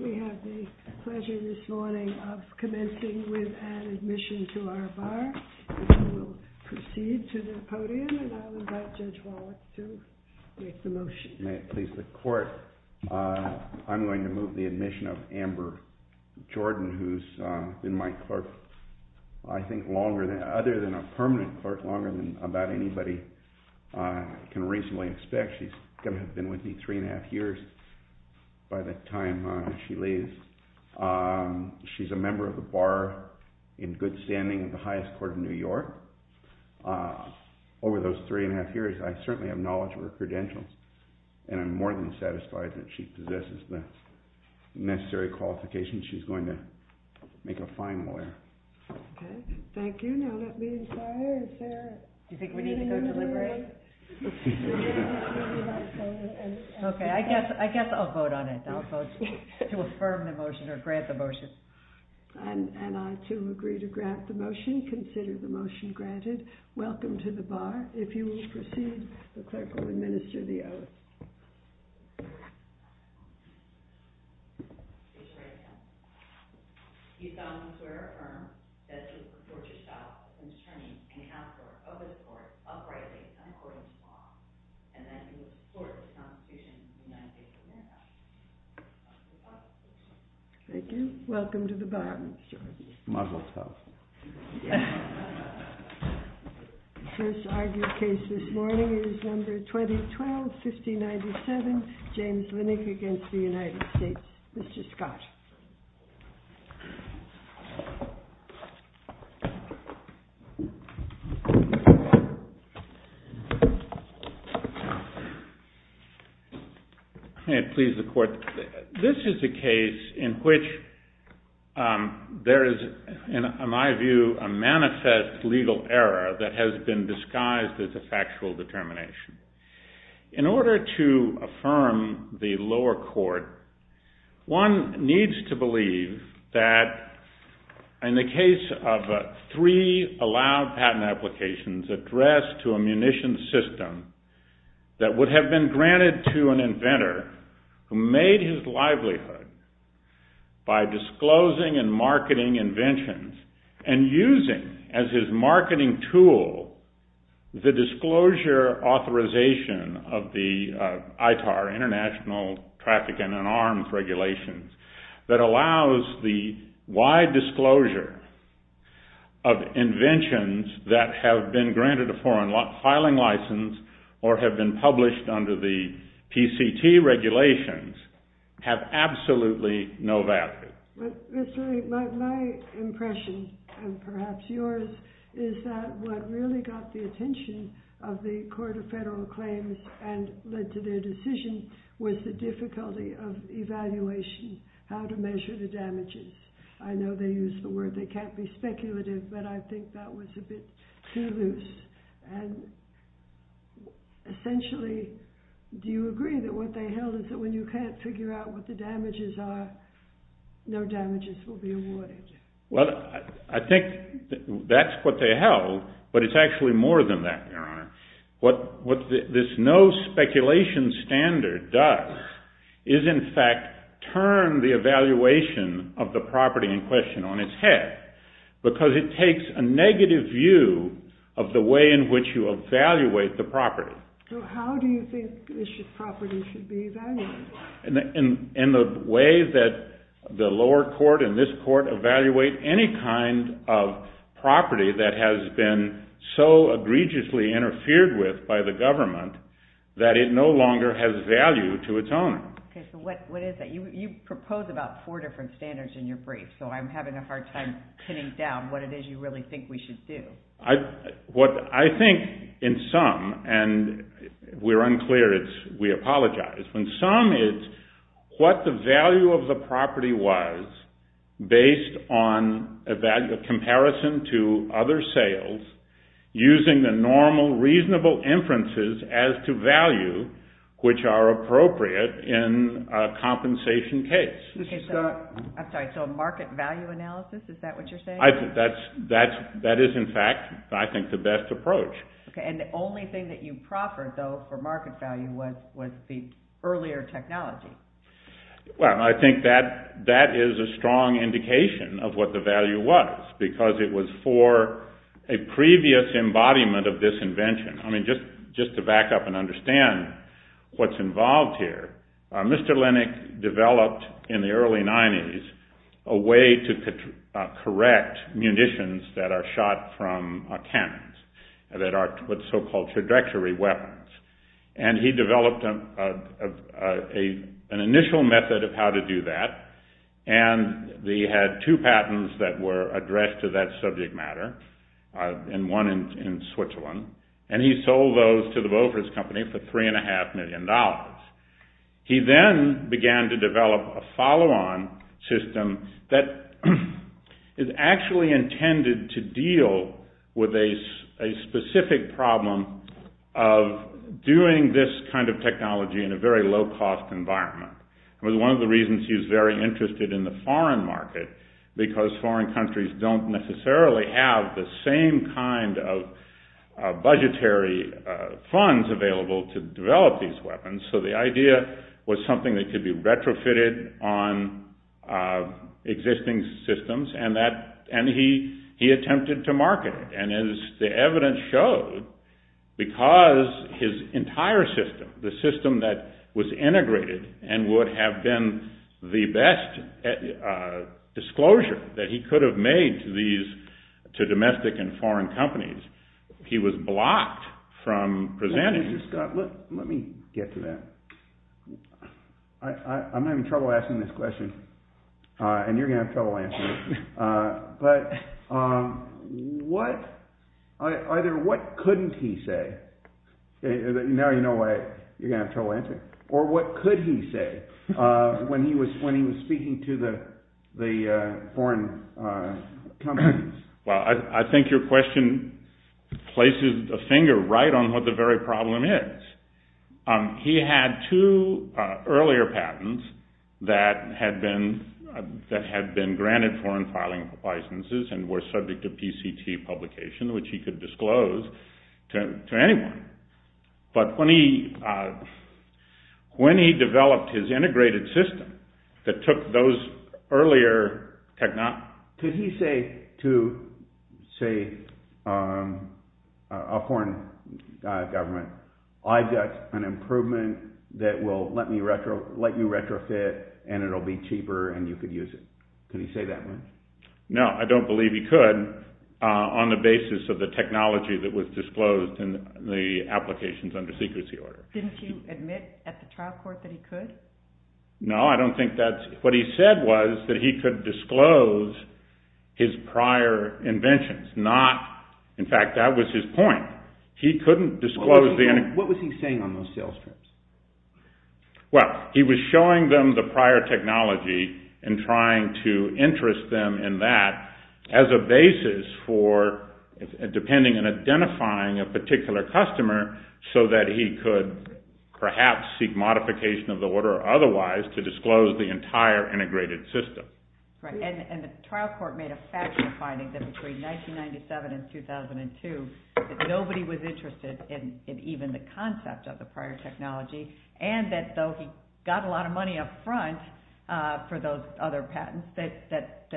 We have the pleasure this morning of commencing with an admission to our bar. We will proceed to the podium, and I will invite Judge Wallace to make the motion. May it please the Court, I'm going to move the admission of Amber Jordan, who's been my clerk, I think, longer than, other than a permanent clerk, longer than about anybody can reasonably expect. She's going to have been with me three and a half years by the time she leaves. She's a member of the bar in good standing of the highest court in New York. Over those three and a half years, I certainly have knowledge of her credentials, and I'm more than satisfied that she possesses the necessary qualifications. She's going to make a fine lawyer. Okay, thank you. Now let me inquire if there is a need to go deliberate. Okay, I guess I'll vote on it. I'll vote to affirm the motion or grant the motion. And I, too, agree to grant the motion. Consider the motion granted. Welcome to the bar. If you will proceed, the clerk will administer the oath. Thank you. Welcome to the bar, Ms. Jordan. The first argued case this morning is number 2012, 5097, James Linick against the United States. Mr. Scott. May it please the court. This is a case in which there is, in my view, a manifest legal error that has been disguised as a factual determination. In order to affirm the lower court, one needs to believe that in the case of three allowed patent applications addressed to a munitions system that would have been granted to an inventor who made his livelihood by disclosing and marketing inventions and using as his marketing tool the disclosure authorization of the ITAR, International Traffic and Arms Regulations, that allows the wide disclosure of inventions that have been granted a foreign filing license or have been published under the PCT regulations have absolutely no value. My impression, and perhaps yours, is that what really got the attention of the Court of Federal Claims and led to their decision was the difficulty of evaluation, how to measure the damages. I know they used the word they can't be speculative, but I think that was a bit too loose. And essentially, do you agree that what they held is that when you can't figure out what the damages are, no damages will be avoided? Well, I think that's what they held, but it's actually more than that, Your Honor. What this no-speculation standard does is, in fact, turn the evaluation of the property in question on its head, because it takes a negative view of the way in which you evaluate the property. So how do you think this property should be evaluated? In the way that the lower court and this court evaluate any kind of property that has been so egregiously interfered with by the government that it no longer has value to its owner. Okay, so what is that? You propose about four different standards in your brief, so I'm having a hard time pinning down what it is you really think we should do. What I think, in sum, and we're unclear, we apologize. In sum, it's what the value of the property was based on a comparison to other sales using the normal reasonable inferences as to value which are appropriate in a compensation case. Okay, so market value analysis, is that what you're saying? That is, in fact, I think the best approach. Okay, and the only thing that you proffered, though, for market value was the earlier technology. Well, I think that is a strong indication of what the value was, because it was for a previous embodiment of this invention. I mean, just to back up and understand what's involved here, Mr. Linick developed, in the early 90s, a way to correct munitions that are shot from cannons, that are what's so-called trajectory weapons. And he developed an initial method of how to do that, and he had two patents that were addressed to that subject matter, and one in Switzerland, and he sold those to the Bofors company for $3.5 million. He then began to develop a follow-on system that is actually intended to deal with a specific problem of doing this kind of technology in a very low-cost environment. It was one of the reasons he was very interested in the foreign market, because foreign countries don't necessarily have the same kind of budgetary funds available to develop these weapons. So, the idea was something that could be retrofitted on existing systems, and he attempted to market it. And as the evidence showed, because his entire system, the system that was integrated and would have been the best disclosure that he could have made to domestic and foreign companies, he was blocked from presenting it. Professor Scott, let me get to that. I'm having trouble asking this question, and you're going to have trouble answering it. But either what couldn't he say, now you know why you're going to have trouble answering it, or what could he say when he was speaking to the foreign companies? Well, I think your question places a finger right on what the very problem is. He had two earlier patents that had been granted foreign filing licenses and were subject to PCT publication, which he could disclose to anyone. But when he developed his integrated system that took those earlier technologies… Could he say to, say, a foreign government, I've got an improvement that will let you retrofit and it will be cheaper and you could use it? Could he say that much? No, I don't believe he could on the basis of the technology that was disclosed in the applications under secrecy order. Didn't he admit at the trial court that he could? No, I don't think that's… What he said was that he could disclose his prior inventions, not… In fact, that was his point. He couldn't disclose the… What was he saying on those sales trips? Well, he was showing them the prior technology and trying to interest them in that as a basis for depending on identifying a particular customer so that he could perhaps seek modification of the order otherwise to disclose the entire integrated system. And the trial court made a factual finding that between 1997 and 2002 that nobody was interested in even the concept of the prior technology and that though he got a lot of money up front for those other patents, that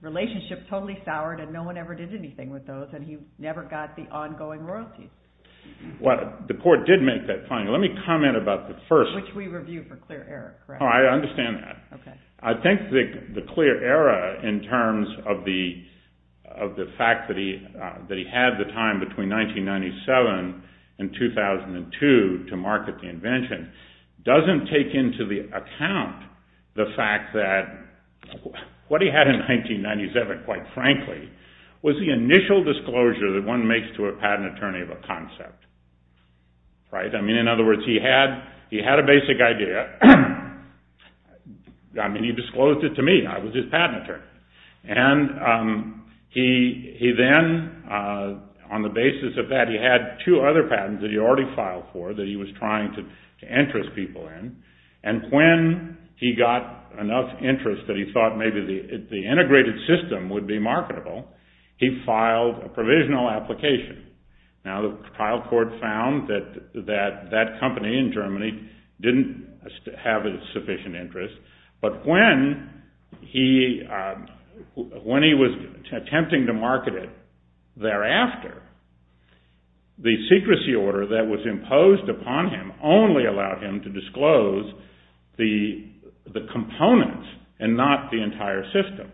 relationship totally soured and no one ever did anything with those and he never got the ongoing royalties. Well, the court did make that finding. Let me comment about the first… Which we reviewed for clear error, correct? Oh, I understand that. I think the clear error in terms of the fact that he had the time between 1997 and 2002 to market the invention doesn't take into the account the fact that what he had in 1997, quite frankly, was the initial disclosure that one makes to a patent attorney of a concept. I mean, in other words, he had a basic idea. I mean, he disclosed it to me. I was his patent attorney. And he then, on the basis of that, he had two other patents that he already filed for that he was trying to interest people in. And when he got enough interest that he thought maybe the integrated system would be marketable, he filed a provisional application. Now, the trial court found that that company in Germany didn't have a sufficient interest. But when he was attempting to market it thereafter, the secrecy order that was imposed upon him only allowed him to disclose the components and not the entire system.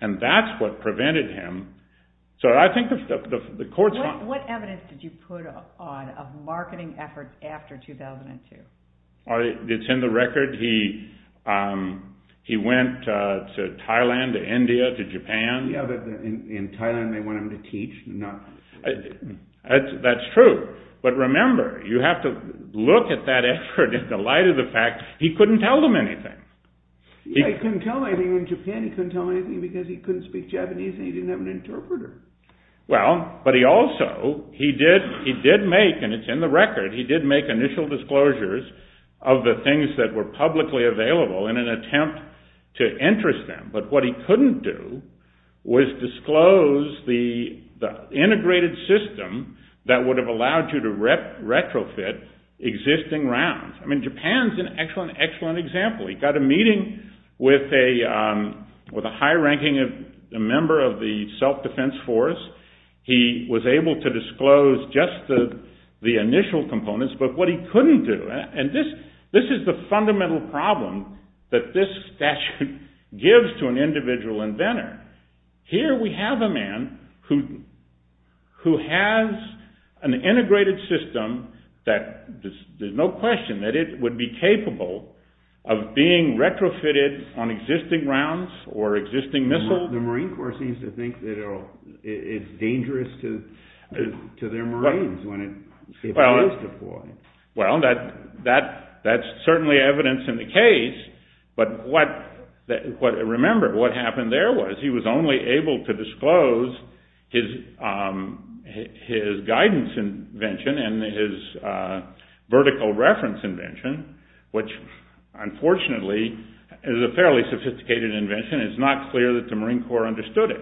And that's what prevented him. So I think the court found… What evidence did you put on of marketing efforts after 2002? It's in the record. He went to Thailand, to India, to Japan. Yeah, but in Thailand they want him to teach, not… That's true. But remember, you have to look at that effort in the light of the fact he couldn't tell them anything. Yeah, he couldn't tell them anything in Japan. He couldn't tell them anything because he couldn't speak Japanese and he didn't have an interpreter. Well, but he also, he did make, and it's in the record, he did make initial disclosures of the things that were publicly available in an attempt to interest them. But what he couldn't do was disclose the integrated system that would have allowed you to retrofit existing rounds. I mean, Japan's an excellent, excellent example. He got a meeting with a high-ranking member of the self-defense force. He was able to disclose just the initial components, but what he couldn't do, and this is the fundamental problem that this statute gives to an individual inventor. Here we have a man who has an integrated system that there's no question that it would be capable of being retrofitted on existing rounds or existing missiles. The Marine Corps seems to think that it's dangerous to their Marines when it fails to deploy. Well, that's certainly evidence in the case, but remember, what happened there was he was only able to disclose his guidance invention and his vertical reference invention, which unfortunately is a fairly sophisticated invention. It's not clear that the Marine Corps understood it.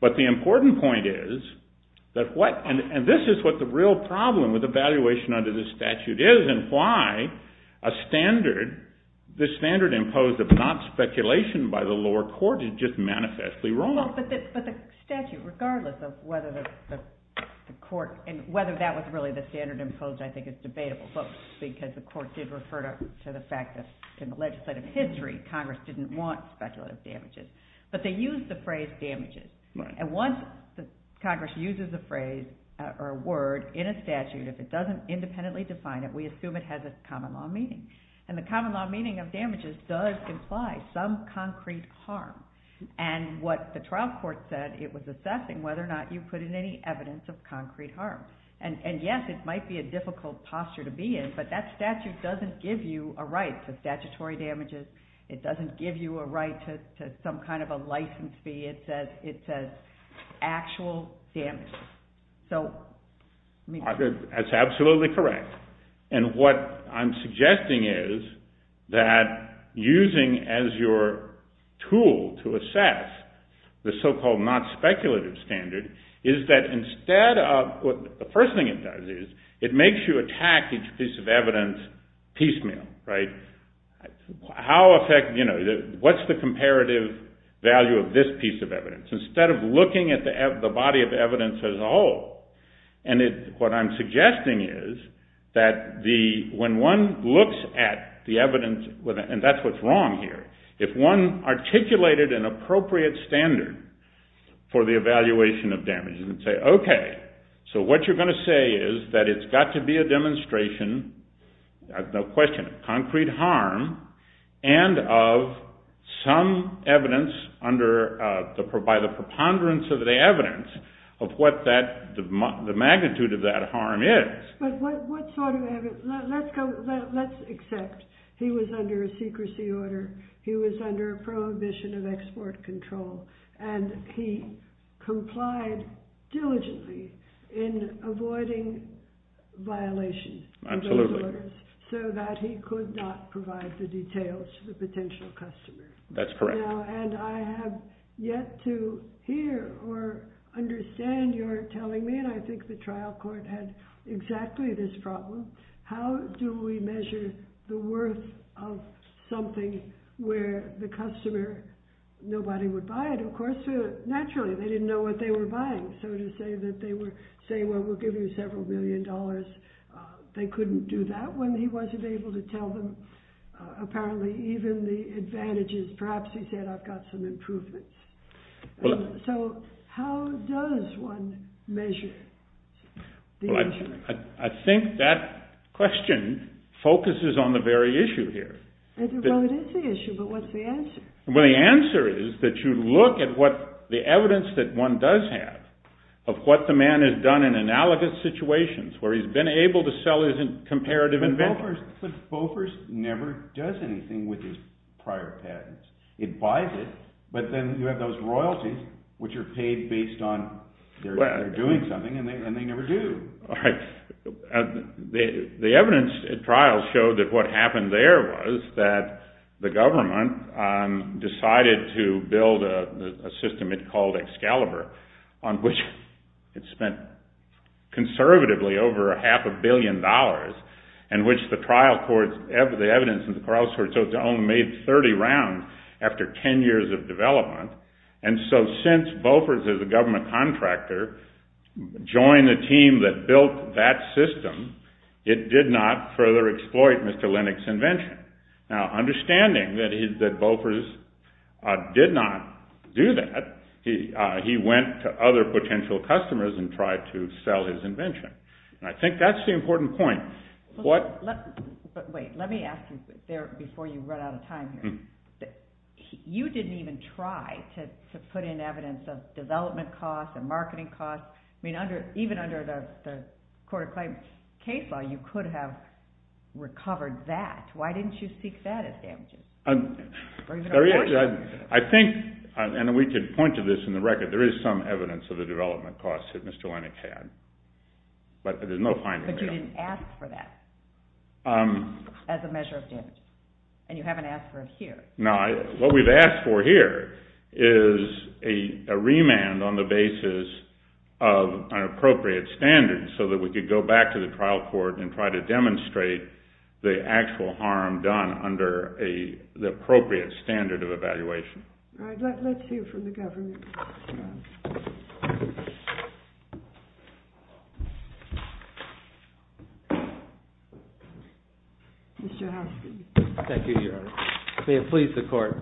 But the important point is that what, and this is what the real problem with evaluation under this statute is and why a standard, the standard imposed of not speculation by the lower court is just manifestly wrong. But the statute, regardless of whether the court, and whether that was really the standard imposed, I think is debatable, because the court did refer to the fact that in the legislative history, Congress didn't want speculative damages, but they used the phrase damages. And once Congress uses the phrase or word in a statute, if it doesn't independently define it, we assume it has a common law meaning. And the common law meaning of damages does imply some concrete harm. And what the trial court said, it was assessing whether or not you put in any evidence of concrete harm. And yes, it might be a difficult posture to be in, but that statute doesn't give you a right to statutory damages. It doesn't give you a right to some kind of a license fee. It says actual damage. That's absolutely correct. And what I'm suggesting is that using as your tool to assess the so-called not speculative standard is that instead of, the first thing it does is it makes you attack each piece of evidence piecemeal, right? What's the comparative value of this piece of evidence? Instead of looking at the body of evidence as a whole, and what I'm suggesting is that when one looks at the evidence, and that's what's wrong here, if one articulated an appropriate standard for the evaluation of damages and say, okay, so what you're going to say is that it's got to be a demonstration, no question, of concrete harm, and of some evidence by the preponderance of the evidence of what the magnitude of that harm is. But what sort of evidence, let's accept he was under a secrecy order, he was under a prohibition of export control, and he complied diligently in avoiding violations of those orders so that he could not provide the details to the potential customer. That's correct. And I have yet to hear or understand your telling me, and I think the trial court had exactly this problem, how do we measure the worth of something where the customer, nobody would buy it, of course, naturally, they didn't know what they were buying, so to say that they were saying, well, we'll give you several million dollars, they couldn't do that when he wasn't able to tell them, apparently, even the advantages, perhaps he said, I've got some improvements. So how does one measure? Well, I think that question focuses on the very issue here. Well, it is the issue, but what's the answer? Well, the answer is that you look at the evidence that one does have of what the man has done in analogous situations, where he's been able to sell his comparative invention. But Bofors never does anything with his prior patents. It buys it, but then you have those royalties, which are paid based on their doing something, and they never do. All right. The evidence at trial showed that what happened there was that the government decided to build a system it called Excalibur, on which it spent conservatively over half a billion dollars, in which the trial courts, the evidence in the trial courts, so it's only made 30 rounds after 10 years of development. And so since Bofors, as a government contractor, joined the team that built that system, it did not further exploit Mr. Lennox's invention. Now, understanding that Bofors did not do that, he went to other potential customers and tried to sell his invention. And I think that's the important point. But wait, let me ask you before you run out of time here. You didn't even try to put in evidence of development costs and marketing costs. I mean, even under the court of claims case law, you could have recovered that. Why didn't you seek that as damages? I think, and we could point to this in the record, there is some evidence of the development costs that Mr. Lennox had. But there's no finding there. So you didn't ask for that as a measure of damage. And you haven't asked for it here. No, what we've asked for here is a remand on the basis of an appropriate standard, so that we could go back to the trial court and try to demonstrate the actual harm done under the appropriate standard of evaluation. All right, let's hear from the government. Mr. Hoskin. Thank you, Your Honor. May it please the court.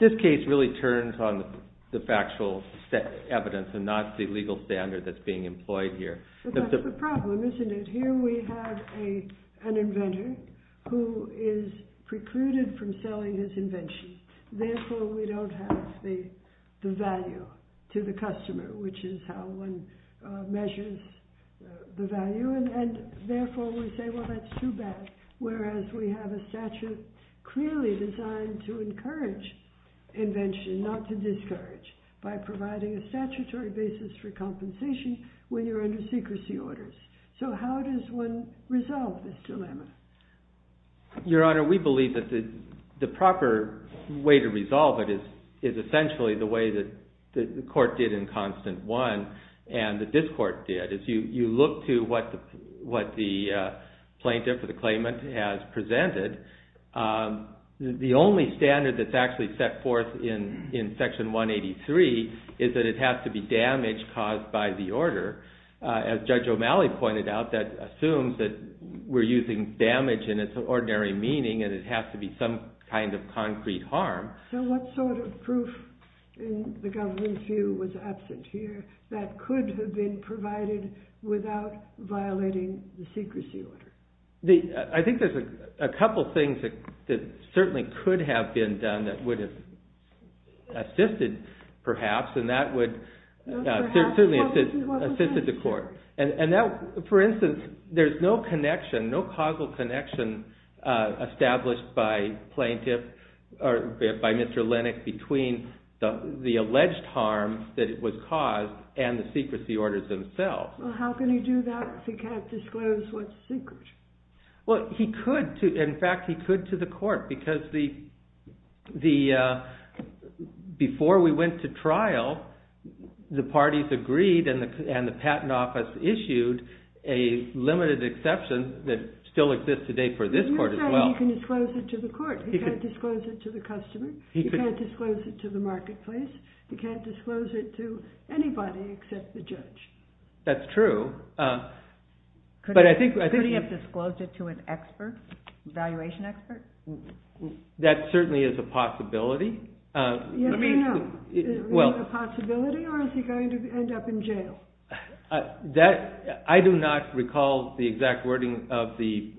This case really turns on the factual evidence and not the legal standard that's being employed here. But that's the problem, isn't it? Here we have an inventor who is precluded from selling his invention. Therefore, we don't have the value to the customer, which is how one measures the value. And therefore, we say, well, that's too bad. Whereas we have a statute clearly designed to encourage invention, not to discourage, by providing a statutory basis for compensation when you're under secrecy orders. So how does one resolve this dilemma? Your Honor, we believe that the proper way to resolve it is essentially the way that the court did in Constant I and that this court did. If you look to what the plaintiff or the claimant has presented, the only standard that's actually set forth in Section 183 is that it has to be damage caused by the order. As Judge O'Malley pointed out, that assumes that we're using damage in its ordinary meaning, and it has to be some kind of concrete harm. So what sort of proof in the government's view was absent here that could have been provided without violating the secrecy order? I think there's a couple things that certainly could have been done that would have assisted, perhaps, and that would certainly have assisted the court. For instance, there's no connection, no causal connection, established by plaintiff, or by Mr. Lennox, between the alleged harm that was caused and the secrecy orders themselves. Well, how can he do that if he can't disclose what's secret? Well, he could. In fact, he could to the court, because before we went to trial, the parties agreed and the patent office issued a limited exception that still exists today for this court as well. He can't disclose it to the court. He can't disclose it to the customer. He can't disclose it to the marketplace. He can't disclose it to anybody except the judge. That's true. Could he have disclosed it to an expert, an evaluation expert? That certainly is a possibility. Yes or no? Is it a possibility, or is he going to end up in jail? I do not recall the exact wording of the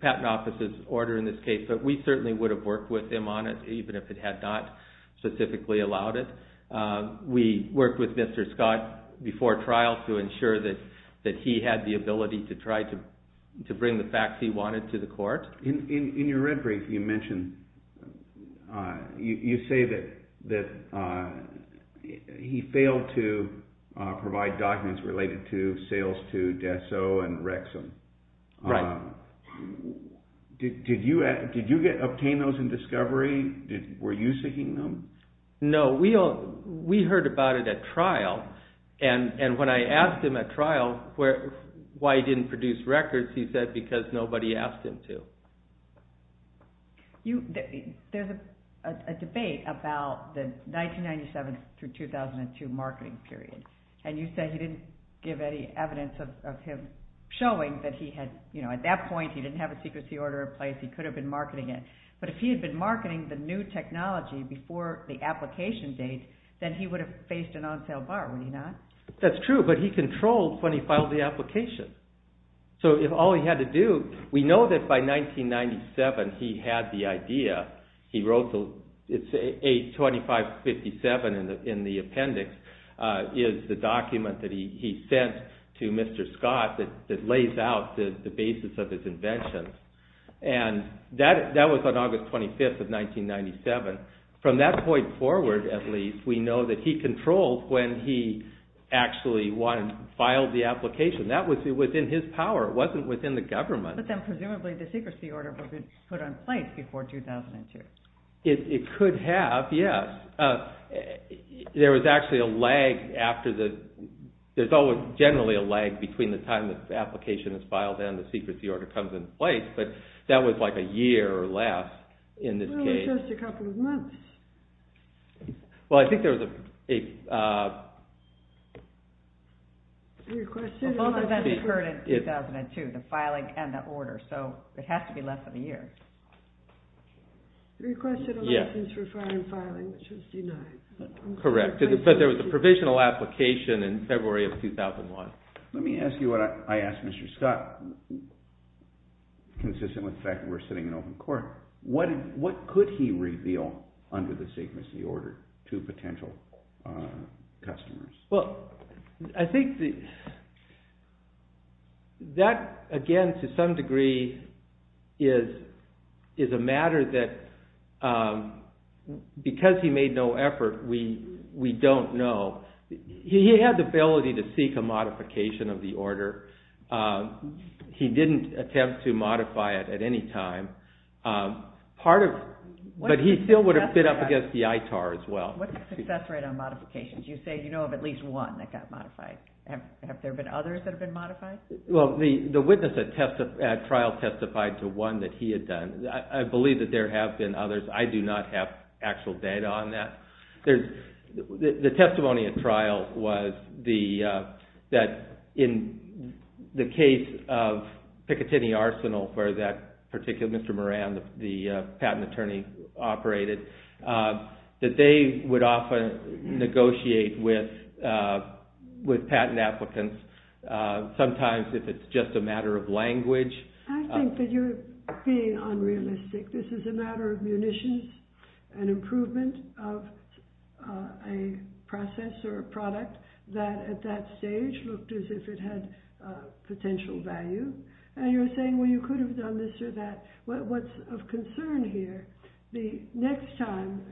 patent office's order in this case, but we certainly would have worked with him on it, even if it had not specifically allowed it. We worked with Mr. Scott before trial to ensure that he had the ability to try to bring the facts he wanted to the court. In your red brief, you say that he failed to provide documents related to sales to Dassault and Rexham. Right. Did you obtain those in discovery? Were you seeking them? No. We heard about it at trial, and when I asked him at trial why he didn't produce records, he said because nobody asked him to. There's a debate about the 1997 through 2002 marketing period, and you said you didn't give any evidence of him showing that at that point he didn't have a secrecy order in place. He could have been marketing it. But if he had been marketing the new technology before the application date, then he would have faced an on-sale bar, would he not? That's true, but he controlled when he filed the application. So if all he had to do – we know that by 1997 he had the idea. He wrote – it's A2557 in the appendix is the document that he sent to Mr. Scott that lays out the basis of his invention. And that was on August 25th of 1997. From that point forward, at least, we know that he controlled when he actually filed the application. That was within his power. It wasn't within the government. But then presumably the secrecy order would have been put in place before 2002. It could have, yes. There was actually a lag after the – there's generally a lag between the time the application is filed and the secrecy order comes into place, but that was like a year or less in this case. Well, it was just a couple of months. Well, I think there was a – Both events occurred in 2002, the filing and the order, so it has to be less than a year. He requested a license for filing, which was denied. Correct, but there was a provisional application in February of 2001. Let me ask you what I asked Mr. Scott, consistent with the fact that we're sitting in open court. What could he reveal under the secrecy order to potential customers? Well, I think that, again, to some degree is a matter that because he made no effort, we don't know. He had the ability to seek a modification of the order. He didn't attempt to modify it at any time. Part of – but he still would have been up against the ITAR as well. What's the success rate on modifications? You say you know of at least one that got modified. Have there been others that have been modified? Well, the witness at trial testified to one that he had done. I believe that there have been others. I do not have actual data on that. The testimony at trial was that in the case of Picatinny Arsenal for that particular – with patent applicants, sometimes if it's just a matter of language – I think that you're being unrealistic. This is a matter of munitions, an improvement of a process or a product that at that stage looked as if it had potential value. And you're saying, well, you could have done this or that. What's of concern here, the next time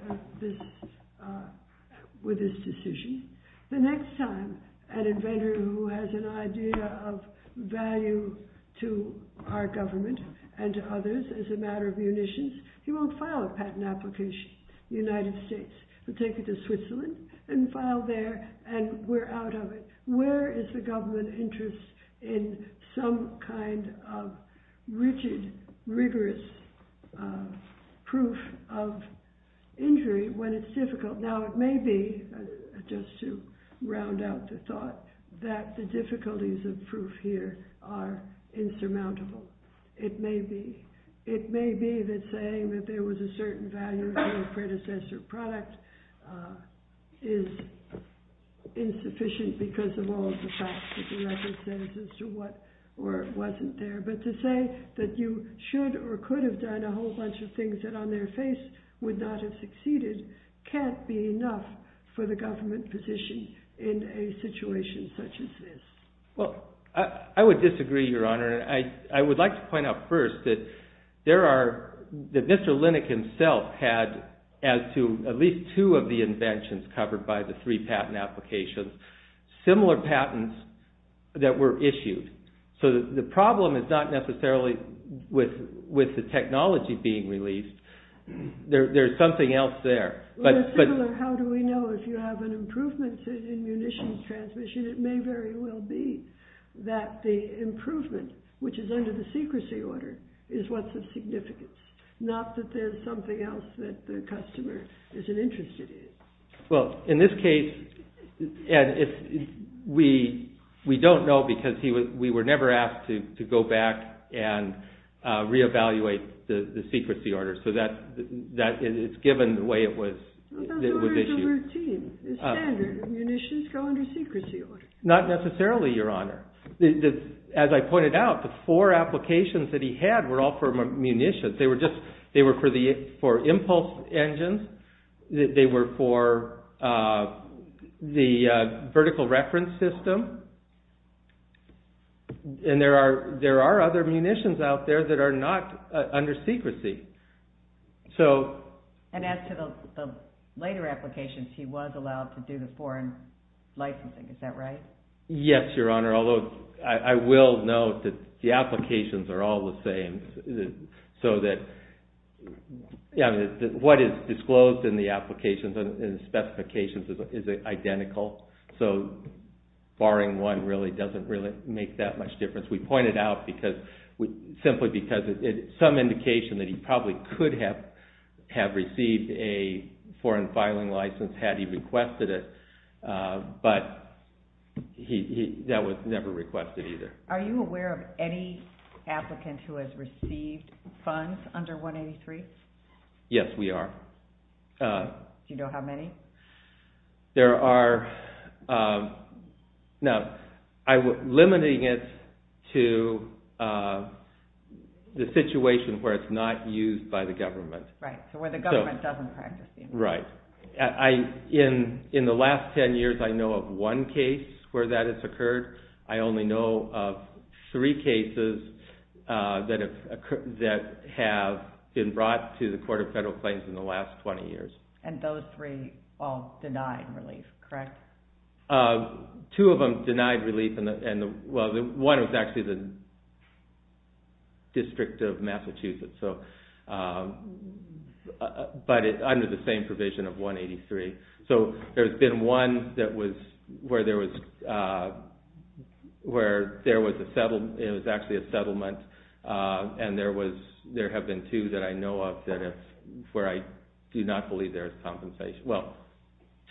with this decision, the next time an inventor who has an idea of value to our government and to others as a matter of munitions, he won't file a patent application in the United States. He'll take it to Switzerland and file there, and we're out of it. Where is the government interest in some kind of rigid, rigorous proof of injury when it's difficult? Now, it may be, just to round out the thought, that the difficulties of proof here are insurmountable. It may be that saying that there was a certain value to a predecessor product is insufficient because of all of the facts that the record says as to what wasn't there. But to say that you should or could have done a whole bunch of things that on their face would not have succeeded can't be enough for the government position in a situation such as this. Well, I would disagree, Your Honor. I would like to point out first that Mr. Linick himself had, as to at least two of the inventions covered by the three patent applications, similar patents that were issued. So the problem is not necessarily with the technology being released. There's something else there. How do we know if you have an improvement in munitions transmission? It may very well be that the improvement, which is under the secrecy order, is what's of significance, not that there's something else that the customer isn't interested in. Well, in this case, we don't know because we were never asked to go back and re-evaluate the secrecy order. So it's given the way it was issued. Those orders are routine. It's standard. Munitions go under secrecy order. Not necessarily, Your Honor. As I pointed out, the four applications that he had were all for munitions. They were for impulse engines. They were for the vertical reference system. And there are other munitions out there that are not under secrecy. And as to the later applications, he was allowed to do the foreign licensing. Is that right? Yes, Your Honor, although I will note that the applications are all the same. What is disclosed in the applications and the specifications is identical. So barring one really doesn't make that much difference. We point it out simply because it's some indication that he probably could have received a foreign filing license had he requested it. But that was never requested either. Are you aware of any applicant who has received funds under 183? Yes, we are. Do you know how many? There are. Now, limiting it to the situation where it's not used by the government. Right, so where the government doesn't practice it. Right. In the last ten years, I know of one case where that has occurred. I only know of three cases that have been brought to the Court of Federal Claims in the last 20 years. And those three all denied relief, correct? Two of them denied relief. One was actually the District of Massachusetts, but under the same provision of 183. So there's been one where there was actually a settlement, and there have been two that I know of where I do not believe there is compensation. Well,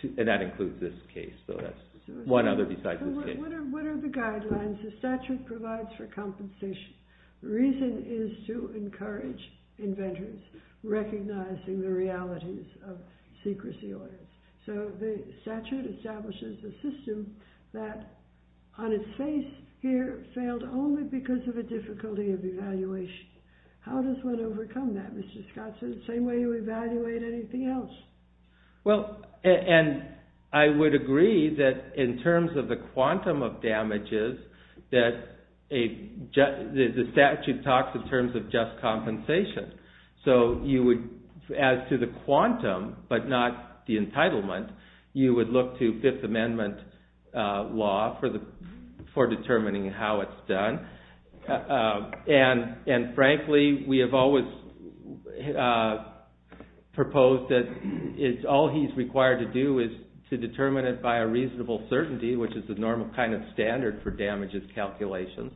and that includes this case. So that's one other besides this case. What are the guidelines the statute provides for compensation? The reason is to encourage inventors, recognizing the realities of secrecy orders. So the statute establishes a system that, on its face here, failed only because of a difficulty of evaluation. How does one overcome that, Mr. Scott? Is it the same way you evaluate anything else? Well, and I would agree that in terms of the quantum of damages, the statute talks in terms of just compensation. So as to the quantum, but not the entitlement, you would look to Fifth Amendment law for determining how it's done. And frankly, we have always proposed that all he's required to do is to determine it by a reasonable certainty, which is the normal kind of standard for damages calculations.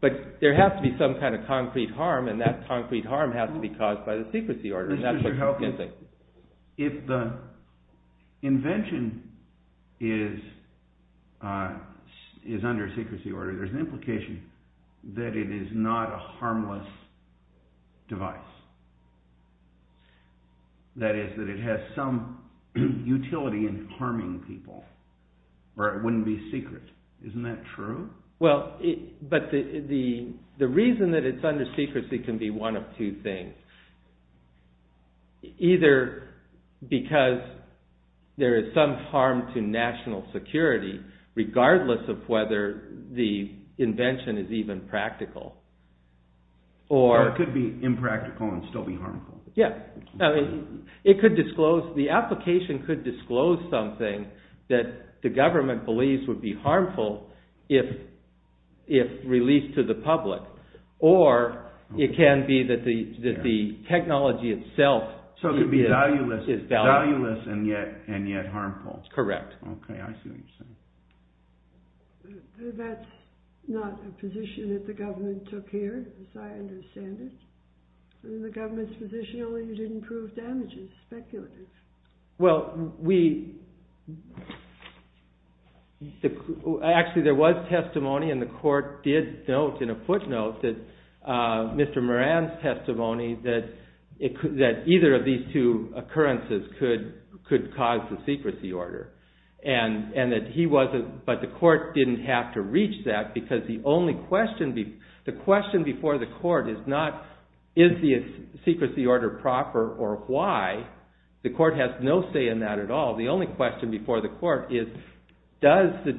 But there has to be some kind of concrete harm, and that concrete harm has to be caused by the secrecy order. If the invention is under secrecy order, there's an implication that it is not a harmless device. That is, that it has some utility in harming people, or it wouldn't be secret. Isn't that true? Well, but the reason that it's under secrecy can be one of two things. Either because there is some harm to national security, regardless of whether the invention is even practical. Or it could be impractical and still be harmful. It could disclose, the application could disclose something that the government believes would be harmful if released to the public. Or it can be that the technology itself is valueless and yet harmful. Correct. That's not a position that the government took here, as I understand it. The government's position is that you didn't prove damages, speculated. Well, we... Actually, there was testimony, and the court did note in a footnote that Mr. Moran's testimony, that either of these two occurrences could cause the secrecy order. And that he wasn't, but the court didn't have to reach that, because the question before the court is not, is the secrecy order proper or why? The court has no say in that at all. The only question before the court is, was the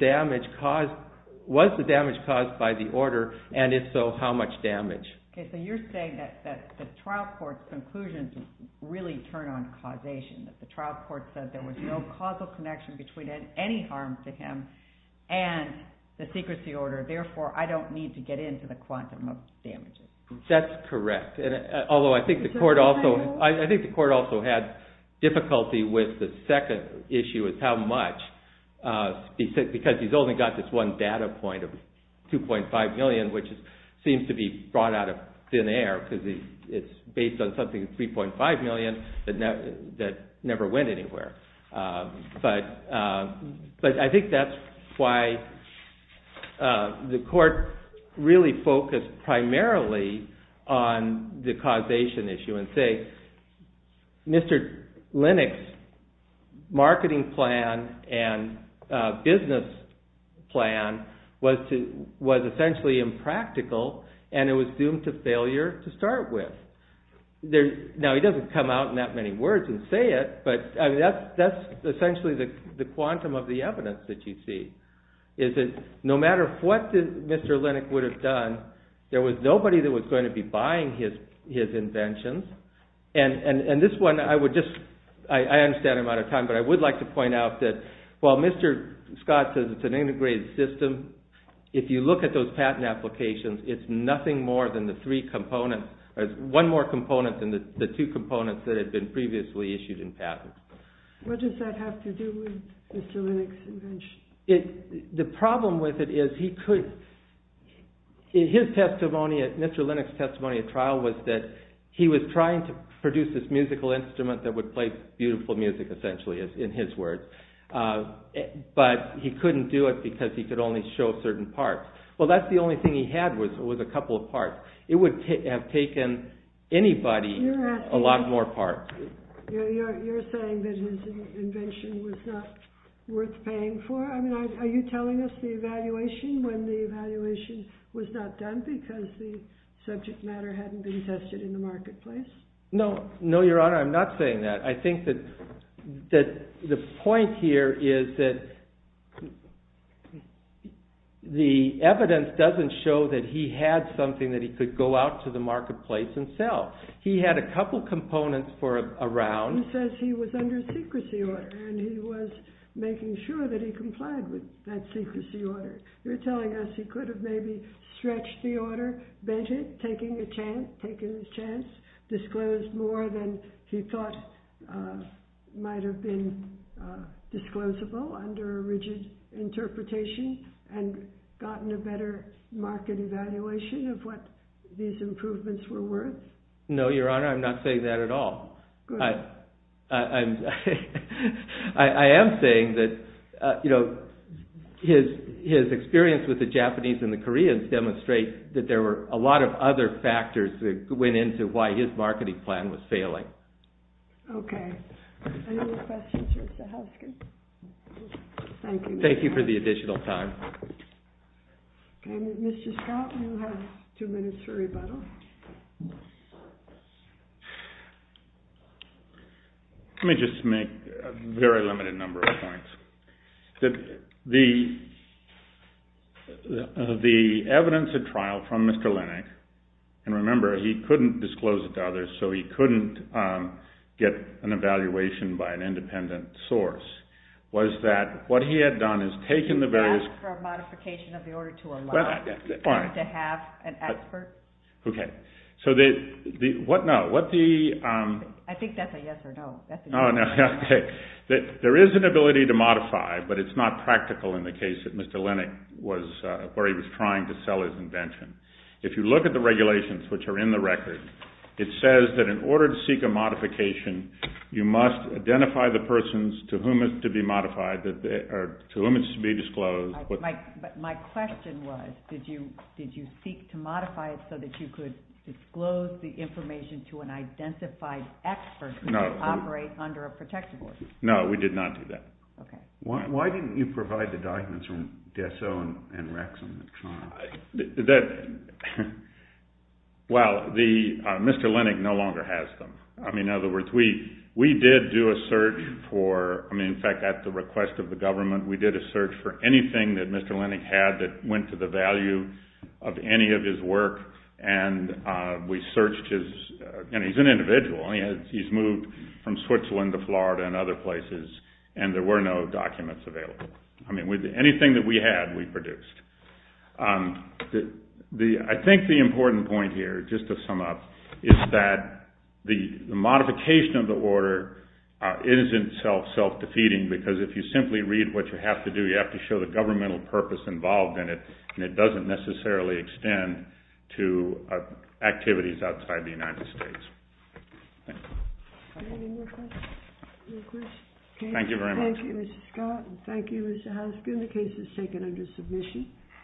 damage caused by the order, and if so, how much damage? Okay, so you're saying that the trial court's conclusions really turn on causation. That the trial court said there was no causal connection between any harm to him and the secrecy order. Therefore, I don't need to get into the quantum of damages. That's correct. Although I think the court also had difficulty with the second issue, with how much, because he's only got this one data point of 2.5 million, which seems to be brought out of thin air, because it's based on something of 3.5 million, that never went anywhere. But I think that's why the court really focused primarily on the causation issue, and say, Mr. Lennox's marketing plan and business plan was essentially impractical, and it was doomed to failure to start with. Now, he doesn't come out in that many words and say it, but that's essentially the quantum of the evidence that you see, is that no matter what Mr. Lennox would have done, there was nobody that was going to be buying his inventions. And this one, I understand I'm out of time, but I would like to point out that while Mr. Scott says it's an integrated system, if you look at those patent applications, it's nothing more than the three components, or it's one more component than the two components that had been previously issued in patents. What does that have to do with Mr. Lennox's invention? The problem with it is he could, in his testimony, Mr. Lennox's testimony at trial, was that he was trying to produce this musical instrument that would play beautiful music, essentially, in his words, but he couldn't do it because he could only show certain parts. Well, that's the only thing he had was a couple of parts. It would have taken anybody a lot more parts. You're saying that his invention was not worth paying for? I mean, are you telling us the evaluation when the evaluation was not done because the subject matter hadn't been tested in the marketplace? No, Your Honor, I'm not saying that. I think that the point here is that the evidence doesn't show that he had something that he could go out to the marketplace and sell. He had a couple components for a round. He says he was under secrecy order, and he was making sure that he complied with that secrecy order. You're telling us he could have maybe stretched the order, taking a chance, disclosed more than he thought might have been disclosable under a rigid interpretation and gotten a better market evaluation of what these improvements were worth? No, Your Honor, I'm not saying that at all. I am saying that his experience with the Japanese and the Koreans did demonstrate that there were a lot of other factors that went into why his marketing plan was failing. Okay. Any other questions for Sahovsky? Thank you. Thank you for the additional time. And Mr. Strout, you have two minutes for rebuttal. Let me just make a very limited number of points. The evidence at trial from Mr. Linick, and remember he couldn't disclose it to others, so he couldn't get an evaluation by an independent source, was that what he had done is taken the various... He asked for a modification of the order to allow him to have an expert. Okay. So the... what now? What the... I think that's a yes or no. There is an ability to modify, but it's not practical in the case that Mr. Linick was... where he was trying to sell his invention. If you look at the regulations which are in the record, it says that in order to seek a modification, you must identify the persons to whom it's to be modified, or to whom it's to be disclosed. But my question was, did you seek to modify it so that you could disclose the information to an identified expert who could operate under a protective order? No, we did not do that. Okay. Why didn't you provide the documents from Desso and Rex in the trial? Well, Mr. Linick no longer has them. I mean, in other words, we did do a search for... I mean, in fact, at the request of the government, we did a search for anything that Mr. Linick had that went to the value of any of his work, and we searched his... and he's an individual. He's moved from Switzerland to Florida and other places, and there were no documents available. I mean, anything that we had, we produced. I think the important point here, just to sum up, is that the modification of the order isn't self-defeating because if you simply read what you have to do, you have to show the governmental purpose involved in it, and it doesn't necessarily extend to activities outside the United States. Any more questions? No questions? Thank you very much. Thank you, Mr. Scott. Thank you, Mr. Haskin. The case is taken under submission.